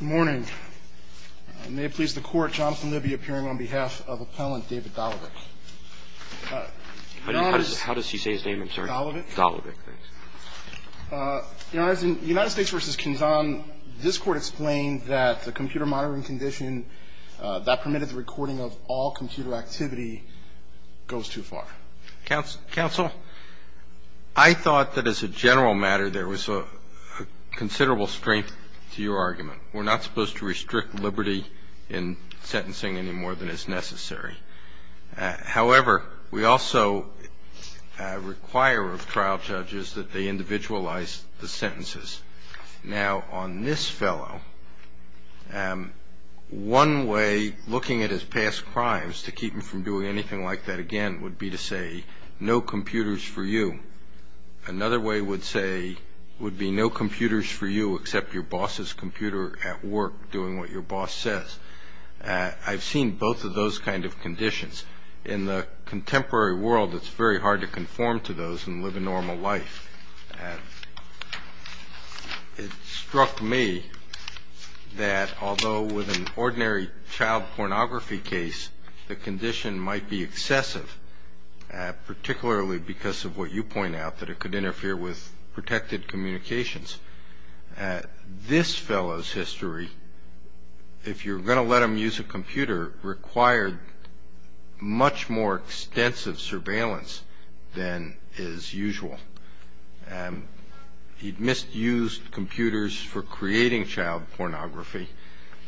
Good morning. May it please the court, Jonathan Libby appearing on behalf of appellant David Dolivek. How does he say his name? I'm sorry. Dolivek. Dolivek, thanks. You know, as in United States v. Kinzon, this court explained that the computer monitoring condition that permitted the recording of all computer activity goes too far. Counsel, I thought that as a general matter there was considerable strength to your argument. We're not supposed to restrict liberty in sentencing any more than is necessary. However, we also require of trial judges that they individualize the sentences. Now, on this fellow, one way looking at his past crimes to keep him from doing anything like that again would be to say no computers for you. Another way would be no computers for you except your boss's computer at work doing what your boss says. I've seen both of those kind of conditions. In the contemporary world, it's very hard to conform to those and live a normal life. It struck me that although with an ordinary child pornography case, the condition might be excessive, particularly because of what you point out, that it could interfere with protected communications. This fellow's history, if you're going to let him use a computer, required much more extensive surveillance than is usual. He misused computers for creating child pornography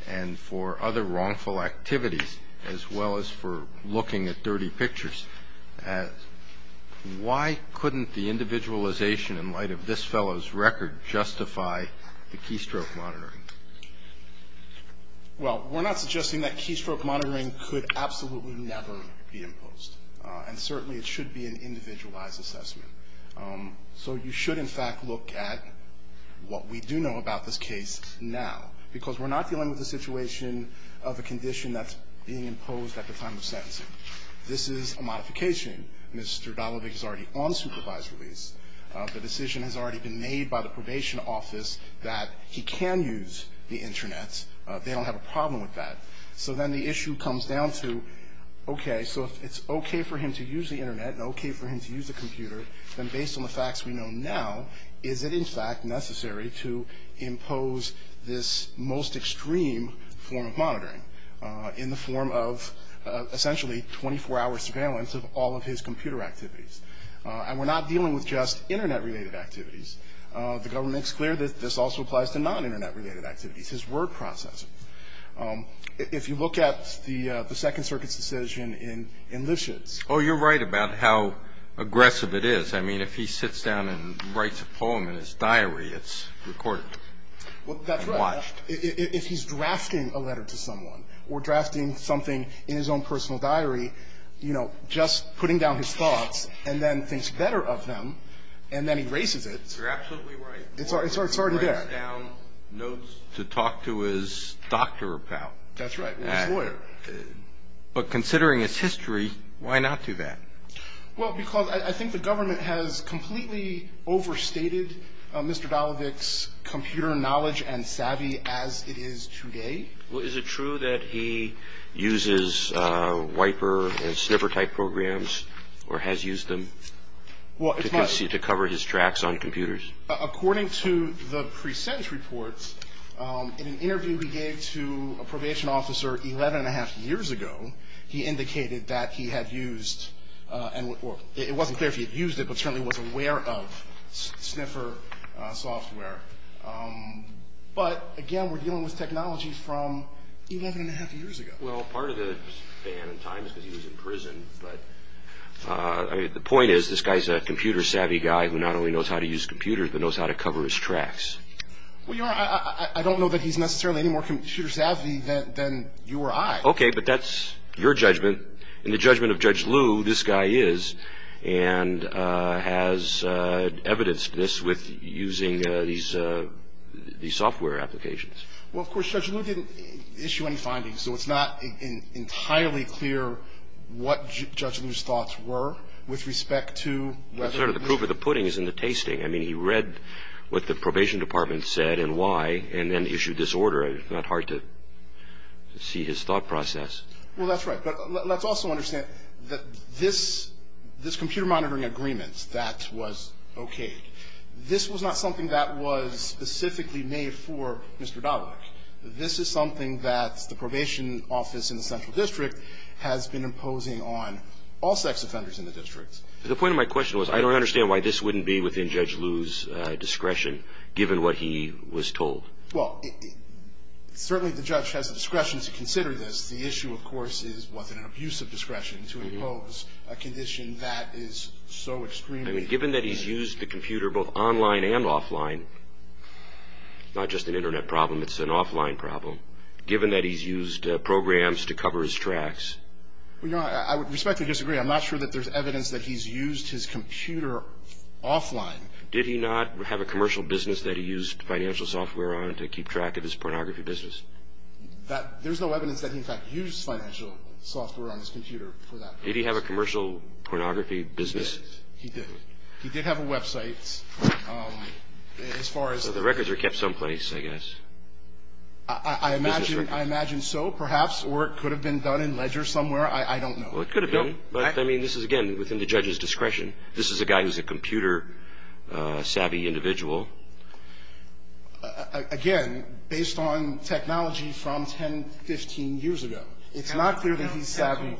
and for other wrongful activities as well as for looking at dirty pictures. Why couldn't the individualization in light of this fellow's record justify the keystroke monitoring? Well, we're not suggesting that keystroke monitoring could absolutely never be imposed, and certainly it should be an individualized assessment. So you should, in fact, look at what we do know about this case now, because we're not dealing with a situation of a condition that's being imposed at the time of sentencing. This is a modification. Mr. Dollevik is already on supervised release. The decision has already been made by the probation office that he can use the Internet. They don't have a problem with that. So then the issue comes down to, okay, so if it's okay for him to use the Internet and okay for him to use a computer, then based on the facts we know now, is it in fact necessary to impose this most extreme form of monitoring in the form of essentially 24-hour surveillance of all of his computer activities? And we're not dealing with just Internet-related activities. The government makes clear that this also applies to non-Internet-related activities, his word processing. If you look at the Second Circuit's decision in Lipschitz. Oh, you're right about how aggressive it is. I mean, if he sits down and writes a poem in his diary, it's recorded and watched. Well, that's right. If he's drafting a letter to someone or drafting something in his own personal diary, you know, just putting down his thoughts and then thinks better of them and then erases it. You're absolutely right. It's already there. Or he writes down notes to talk to his doctor about. That's right. Or his lawyer. But considering his history, why not do that? Well, because I think the government has completely overstated Mr. Dalovic's computer knowledge and savvy as it is today. Is it true that he uses Wiper and Sniffer-type programs or has used them to cover his tracks on computers? According to the pre-sentence reports, in an interview we gave to a probation officer 11 1⁄2 years ago, he indicated that he had used and it wasn't clear if he had used it, but certainly was aware of Sniffer software. But, again, we're dealing with technology from 11 1⁄2 years ago. Well, part of the span in time is because he was in prison, but the point is this guy's a computer-savvy guy who not only knows how to use computers, but knows how to cover his tracks. Well, Your Honor, I don't know that he's necessarily any more computer-savvy than you or I. Okay, but that's your judgment. In the judgment of Judge Liu, this guy is and has evidenced this with using these software applications. Well, of course, Judge Liu didn't issue any findings, so it's not entirely clear what Judge Liu's thoughts were with respect to whether or not he used it. Well, sort of the proof of the pudding is in the tasting. I mean, he read what the probation department said and why and then issued this order. It's not hard to see his thought process. Well, that's right. But let's also understand that this computer monitoring agreement that was okayed, this was not something that was specifically made for Mr. Dalek. This is something that the probation office in the Central District has been imposing on all sex offenders in the district. The point of my question was I don't understand why this wouldn't be within Judge Liu's discretion, given what he was told. Well, certainly the judge has the discretion to consider this. The issue, of course, is was it an abuse of discretion to impose a condition that is so extreme. I mean, given that he's used the computer both online and offline, not just an Internet problem, it's an offline problem, given that he's used programs to cover his tracks. Well, Your Honor, I would respectfully disagree. I'm not sure that there's evidence that he's used his computer offline. Did he not have a commercial business that he used financial software on to keep track of his pornography business? There's no evidence that he, in fact, used financial software on his computer for that purpose. Did he have a commercial pornography business? He did. He did. He did have a website. As far as the records are kept someplace, I guess. I imagine so, perhaps, or it could have been done in Ledger somewhere. I don't know. Well, it could have been. But, I mean, this is, again, within the judge's discretion. This is a guy who's a computer-savvy individual. Again, based on technology from 10, 15 years ago. It's not clear that he's savvy.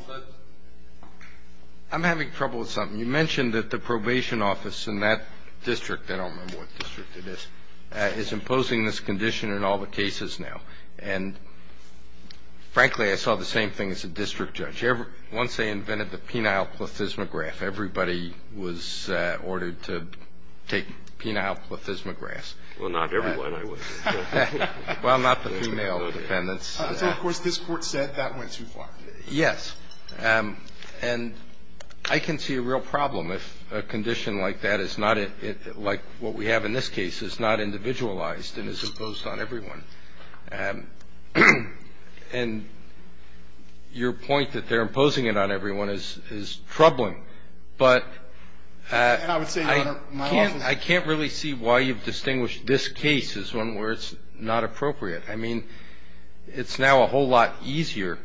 I'm having trouble with something. You mentioned that the probation office in that district, I don't remember what district it is, is imposing this condition in all the cases now. And, frankly, I saw the same thing as a district judge. Once they invented the penile plethysmograph, everybody was ordered to take penile plethysmographs. Well, not everyone, I would think. Well, not the female defendants. So, of course, this Court said that went too far. Yes. And I can see a real problem if a condition like that is not, like what we have in this case, is not individualized and is imposed on everyone. And your point that they're imposing it on everyone is troubling. But I can't really see why you've distinguished this case as one where it's not appropriate. I mean, it's now a whole lot easier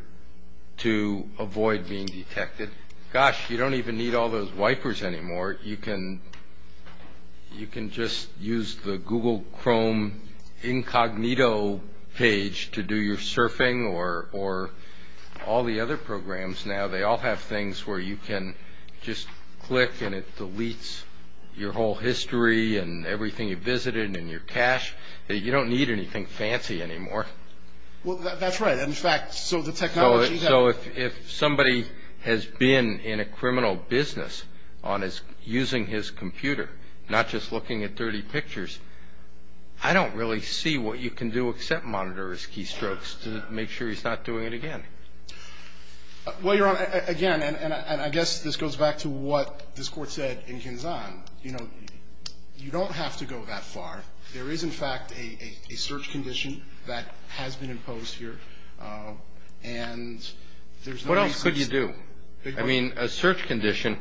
to avoid being detected. Gosh, you don't even need all those wipers anymore. Or you can just use the Google Chrome incognito page to do your surfing or all the other programs now, they all have things where you can just click and it deletes your whole history and everything you visited and your cash. You don't need anything fancy anymore. Well, that's right. And, in fact, so the technology has. So if somebody has been in a criminal business on his using his computer, not just looking at dirty pictures, I don't really see what you can do except monitor his keystrokes to make sure he's not doing it again. Well, Your Honor, again, and I guess this goes back to what this Court said in Kinzon, you know, you don't have to go that far. There is, in fact, a search condition that has been imposed here. And there's no reason. What else could you do? I mean, a search condition,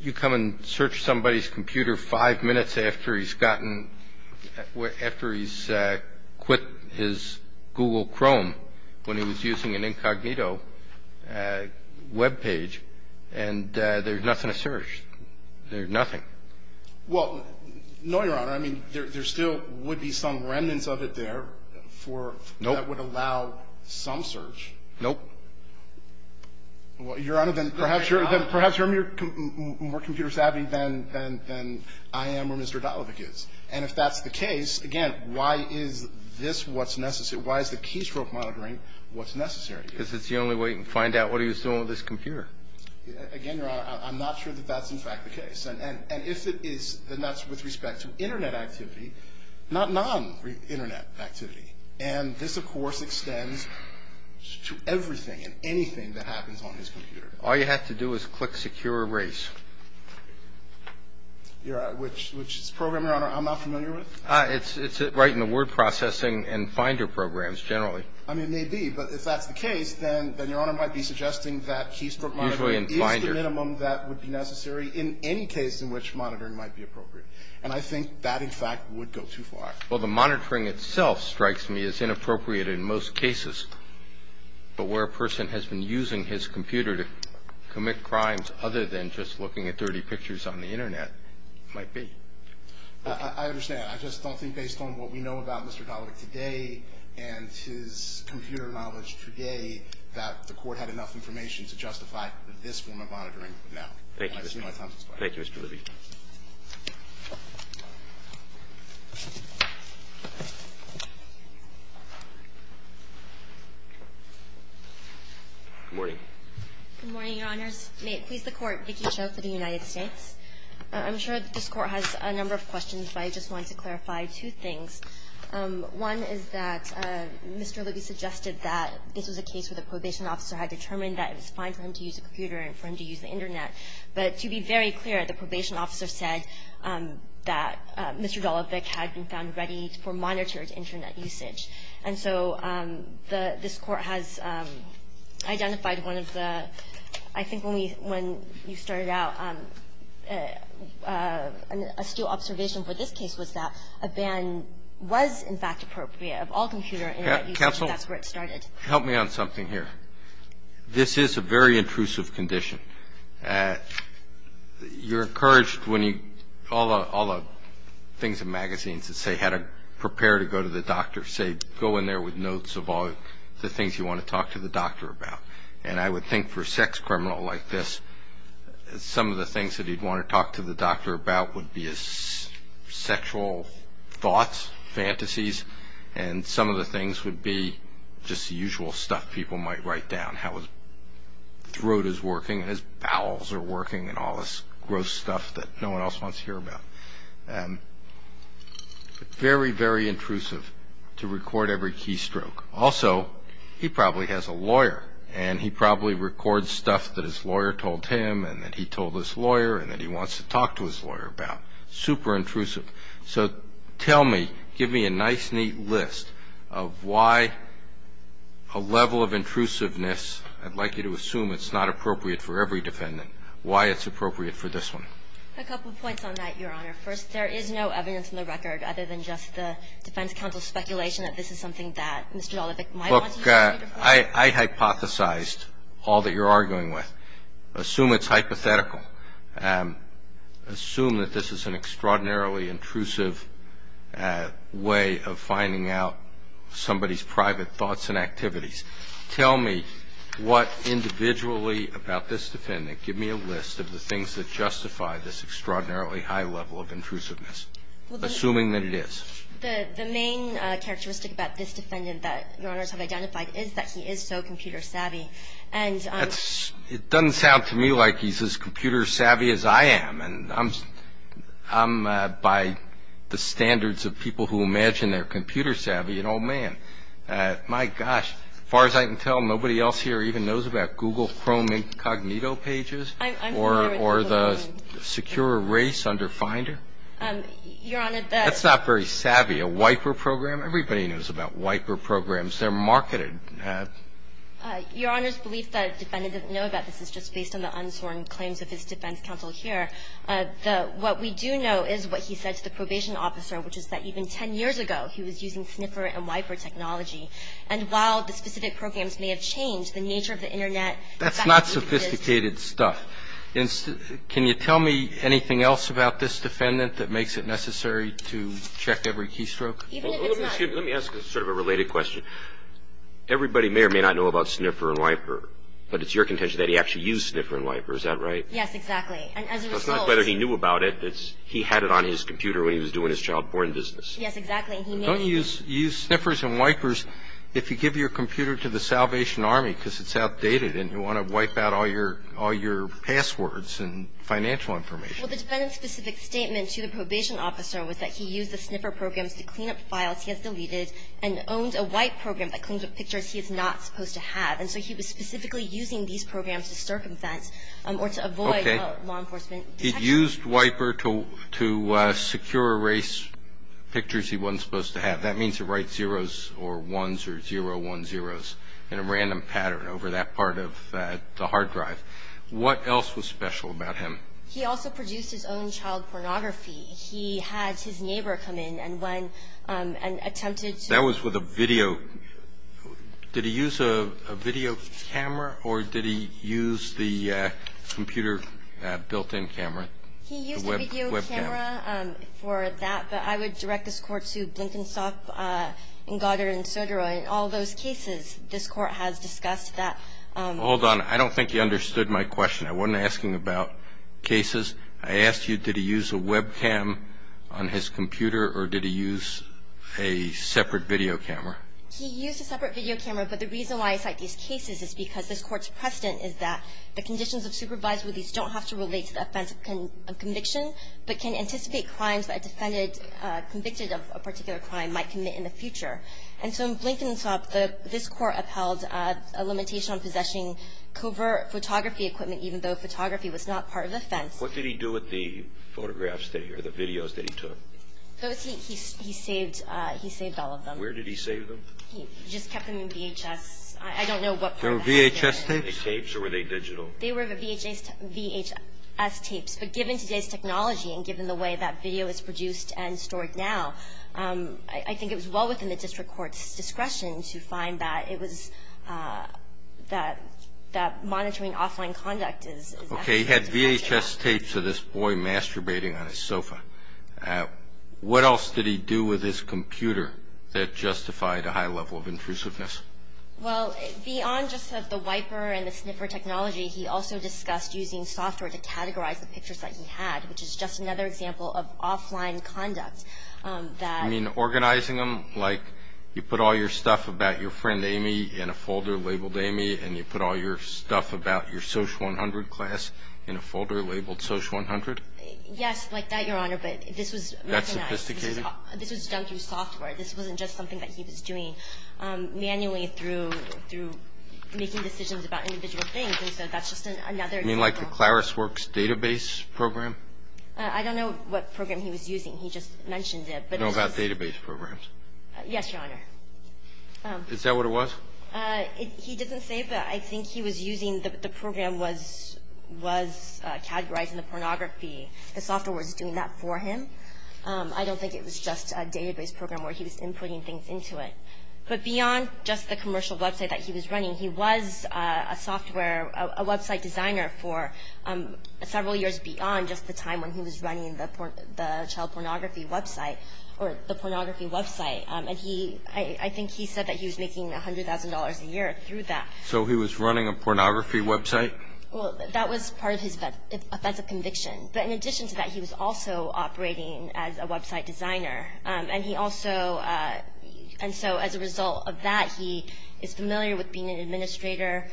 you come and search somebody's computer five minutes after he's gotten, after he's quit his Google Chrome when he was using an incognito web page Well, no, Your Honor. I mean, there still would be some remnants of it there for that would allow some search. Nope. Well, Your Honor, then perhaps you're more computer savvy than I am or Mr. Dalovic is. And if that's the case, again, why is this what's necessary? Why is the keystroke monitoring what's necessary? Because it's the only way you can find out what he was doing with this computer. Again, Your Honor, I'm not sure that that's, in fact, the case. And if it is, then that's with respect to Internet activity, not non-Internet activity. And this, of course, extends to everything and anything that happens on his computer. All you have to do is click Secure Erase. Which is a program, Your Honor, I'm not familiar with. It's right in the word processing and Finder programs generally. I mean, it may be. But if that's the case, then Your Honor might be suggesting that keystroke monitoring is the minimum that would be necessary in any case in which monitoring might be appropriate. And I think that, in fact, would go too far. Well, the monitoring itself strikes me as inappropriate in most cases. But where a person has been using his computer to commit crimes other than just looking at dirty pictures on the Internet might be. I understand. I just don't think based on what we know about Mr. Dalovic today and his computer knowledge today that the Court had enough information to justify this form of monitoring now. Thank you, Mr. Libby. Good morning. Good morning, Your Honors. May it please the Court. Vicki Cho for the United States. I'm sure this Court has a number of questions, but I just want to clarify two things. One is that Mr. Libby suggested that this was a case where the probation officer had determined that it was fine for him to use a computer and for him to use the Internet. But to be very clear, the probation officer said that Mr. Dalovic had been found ready for monitored Internet usage. And so the – this Court has identified one of the – I think when we – when you started out, a still observation for this case was that a ban was, in fact, appropriate of all computer Internet usage. That's where it started. Counsel, help me on something here. This is a very intrusive condition. You're encouraged when you – all the things in magazines that say how to prepare to go to the doctor say go in there with notes of all the things you want to talk to the doctor about. And I would think for a sex criminal like this, some of the things that he'd want to talk to the doctor about would be his sexual thoughts, fantasies, and some of the things would be just the usual stuff people might write down, how his throat is working and his bowels are working and all this gross stuff that no one else wants to hear about. Very, very intrusive to record every key stroke. Also, he probably has a lawyer, and he probably records stuff that his lawyer told him and that he told his lawyer and that he wants to talk to his lawyer about. Super intrusive. So tell me, give me a nice, neat list of why a level of intrusiveness – I'd like you to assume it's not appropriate for every defendant – why it's appropriate for this one. A couple points on that, Your Honor. First, there is no evidence in the record other than just the defense counsel's speculation that this is something that Mr. Dolevic might want to use. Look, I hypothesized all that you're arguing with. Assume it's hypothetical. Assume that this is an extraordinarily intrusive way of finding out somebody's private thoughts and activities. Tell me what individually about this defendant – give me a list of the things that justify this extraordinarily high level of intrusiveness, assuming that it is. The main characteristic about this defendant that Your Honors have identified is that he is so computer savvy. It doesn't sound to me like he's as computer savvy as I am. And I'm by the standards of people who imagine they're computer savvy. And, oh, man, my gosh, as far as I can tell, nobody else here even knows about Google Chrome incognito pages or the secure race under Finder. Your Honor, the – That's not very savvy. A wiper program? Everybody knows about wiper programs. They're marketed. Your Honor's belief that a defendant doesn't know about this is just based on the unsworn claims of his defense counsel here. The – what we do know is what he said to the probation officer, which is that even 10 years ago he was using sniffer and wiper technology. And while the specific programs may have changed, the nature of the Internet That's not sophisticated stuff. Can you tell me anything else about this defendant that makes it necessary to check every keystroke? Let me ask a sort of a related question. Everybody may or may not know about sniffer and wiper. But it's your contention that he actually used sniffer and wiper. Is that right? Yes, exactly. And as a result – It's not whether he knew about it. It's he had it on his computer when he was doing his child-born business. Yes, exactly. He – Don't you use sniffers and wipers if you give your computer to the Salvation Army because it's outdated and you want to wipe out all your – all your passwords and financial information? Well, the defendant's specific statement to the probation officer was that he used the sniffer programs to clean up files he has deleted and owns a wipe program that cleans up pictures he is not supposed to have. And so he was specifically using these programs to circumvent or to avoid law enforcement detection. Okay. He used wiper to secure erase pictures he wasn't supposed to have. That means to write zeros or ones or 010s in a random pattern over that part of the hard drive. What else was special about him? He also produced his own child pornography. He had his neighbor come in and when – and attempted to – That was with a video. Did he use a video camera or did he use the computer built-in camera? He used a video camera for that. But I would direct this Court to Blinkenstock and Goddard and Sodaro. In all those cases, this Court has discussed that. Hold on. I don't think you understood my question. I wasn't asking about cases. I asked you did he use a webcam on his computer or did he use a separate video camera? He used a separate video camera, but the reason why I cite these cases is because this Court's precedent is that the conditions of supervised release don't have to relate to the offense of conviction, but can anticipate crimes that a defendant convicted of a particular crime might commit in the future. And so in Blinkenstock, this Court upheld a limitation on possessing covert photography equipment, even though photography was not part of the offense. What did he do with the photographs that he – or the videos that he took? He saved all of them. Where did he save them? He just kept them in VHS. I don't know what part of the house they were in. They were VHS tapes? They were VHS tapes or were they digital? They were VHS tapes. But given today's technology and given the way that video is produced and stored now, I think it was well within the district court's discretion to find that it was – that monitoring offline conduct is necessary. Okay, he had VHS tapes of this boy masturbating on his sofa. What else did he do with his computer that justified a high level of intrusiveness? Well, beyond just the wiper and the sniffer technology, he also discussed using software to categorize the pictures that he had, which is just another example of offline conduct that – You mean organizing them like you put all your stuff about your friend Amy in a folder labeled Amy and you put all your stuff about your Social 100 class in a folder labeled Social 100? Yes, like that, Your Honor, but this was – That sophisticated? This was done through software. This wasn't just something that he was doing manually. This was done manually through making decisions about individual things, and so that's just another example. You mean like the ClariceWorks database program? I don't know what program he was using. He just mentioned it. I know about database programs. Yes, Your Honor. Is that what it was? He doesn't say that. I think he was using – the program was categorizing the pornography. The software was doing that for him. I don't think it was just a database program where he was inputting things into it. But beyond just the commercial website that he was running, he was a software – a website designer for several years beyond just the time when he was running the child pornography website or the pornography website, and I think he said that he was making $100,000 a year through that. So he was running a pornography website? Well, that was part of his offensive conviction. But in addition to that, he was also operating as a website designer, and he also – and so as a result of that, he is familiar with being an administrator.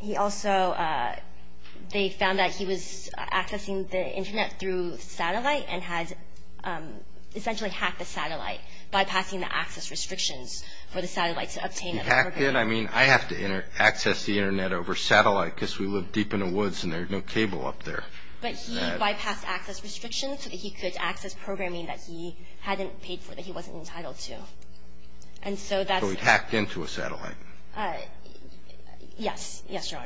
He also – they found that he was accessing the Internet through satellite and had essentially hacked the satellite, bypassing the access restrictions for the satellite to obtain it. He hacked it? I mean, I have to access the Internet over satellite because we live deep in the woods and there's no cable up there. But he bypassed access restrictions so that he could access programming that he hadn't paid for, that he wasn't entitled to. And so that's – So he hacked into a satellite? Yes. Yes, Your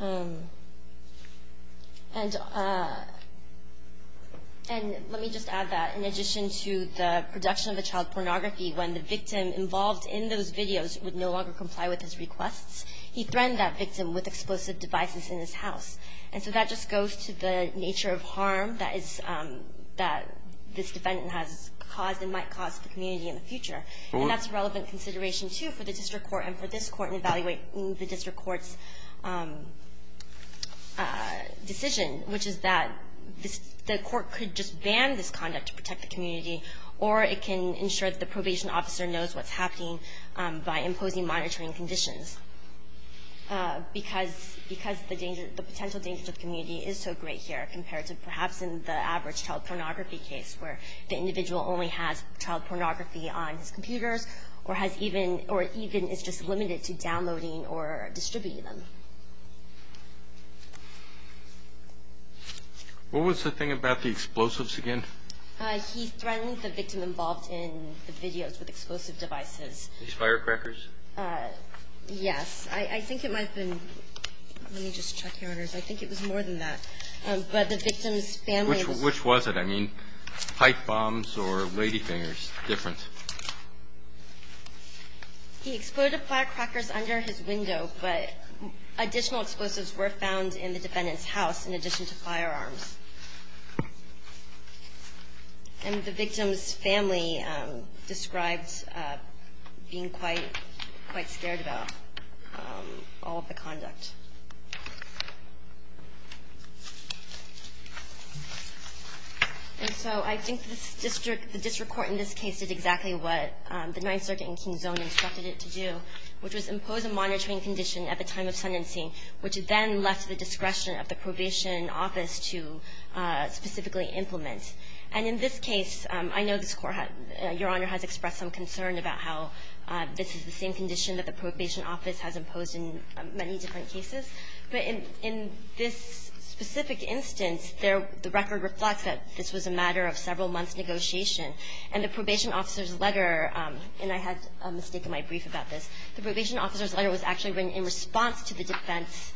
Honor. And let me just add that in addition to the production of the child pornography, when the victim involved in those videos would no longer comply with his requests, he threatened that victim with explosive devices in his house. And so that just goes to the nature of harm that this defendant has caused and might cause to the community in the future. And that's a relevant consideration, too, for the district court and for this court in evaluating the district court's decision, which is that the court could just ban this conduct to protect the community, or it can ensure that the probation officer knows what's happening by imposing any monitoring conditions because the potential danger to the community is so great here compared to perhaps in the average child pornography case where the individual only has child pornography on his computers or even is just limited to downloading or distributing them. What was the thing about the explosives again? He threatened the victim involved in the videos with explosive devices. These firecrackers? Yes. I think it might have been ñ let me just check, Your Honors. I think it was more than that. But the victim's family was ñ Which was it? I mean, pipe bombs or ladyfingers? Different. He exploded firecrackers under his window, but additional explosives were found in the defendant's house in addition to firearms. And the victim's family described being quite scared about all of the conduct. And so I think the district court in this case did exactly what the Ninth Circuit in King's Own instructed it to do, which was impose a monitoring condition at the time of sentencing, which then left to the discretion of the probation office to specifically implement. And in this case, I know this court, Your Honor, has expressed some concern about how this is the same condition that the probation office has imposed in many different cases. But in this specific instance, the record reflects that this was a matter of several months' negotiation. And the probation officer's letter, and I had a mistake in my brief about this, the probation officer's letter was actually written in response to the defense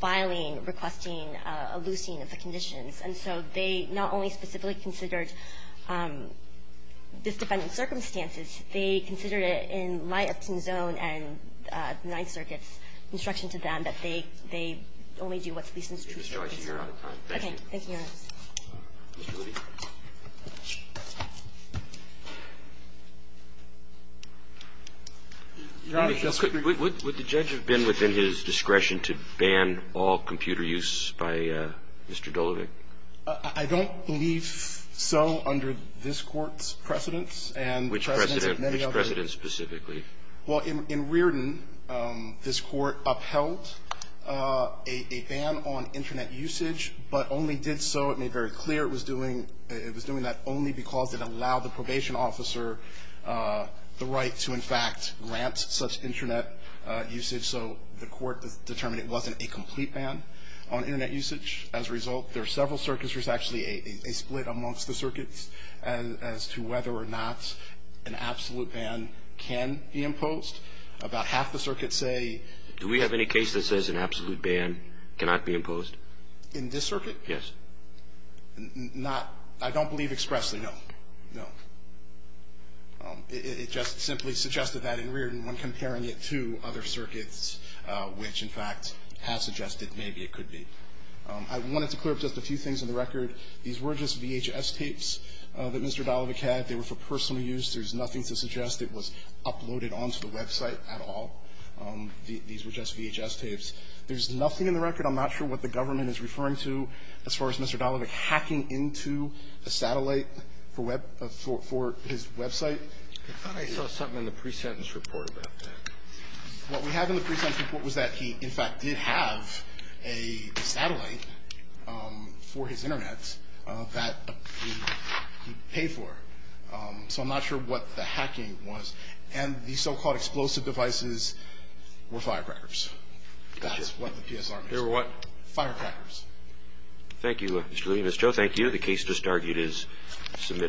filing, requesting a loosing of the conditions. And so they not only specifically considered this defendant's circumstances, they considered it in light of King's Own and the Ninth Circuit's instruction to them that they only do what's least in the district's discretion. Thank you, Your Honor. Mr. Levy? Your Honor, if you'll excuse me. Would the judge have been within his discretion to ban all computer use by Mr. Dolovic? I don't believe so under this Court's precedents and the precedents of many others. Which precedents? Which precedents specifically? Well, in Riordan, this Court upheld a ban on Internet usage, but only did so in the case that the court made very clear it was doing that only because it allowed the probation officer the right to, in fact, grant such Internet usage. So the court determined it wasn't a complete ban on Internet usage. As a result, there are several circuits. There's actually a split amongst the circuits as to whether or not an absolute ban can be imposed. About half the circuits say do we have any case that says an absolute ban cannot be imposed? In this circuit? Yes. Not – I don't believe expressly, no. No. It just simply suggested that in Riordan when comparing it to other circuits, which, in fact, has suggested maybe it could be. I wanted to clear up just a few things on the record. These were just VHS tapes that Mr. Dolovic had. They were for personal use. There's nothing to suggest it was uploaded onto the website at all. These were just VHS tapes. There's nothing in the record – I'm not sure what the government is referring to as far as Mr. Dolovic hacking into a satellite for his website. I thought I saw something in the pre-sentence report about that. What we have in the pre-sentence report was that he, in fact, did have a satellite for his Internet that he paid for. So I'm not sure what the hacking was. And these so-called explosive devices were firecrackers. That's what the PSR means. They were what? Firecrackers. Thank you, Mr. Louis and Ms. Cho. Thank you. The case just argued is submitted.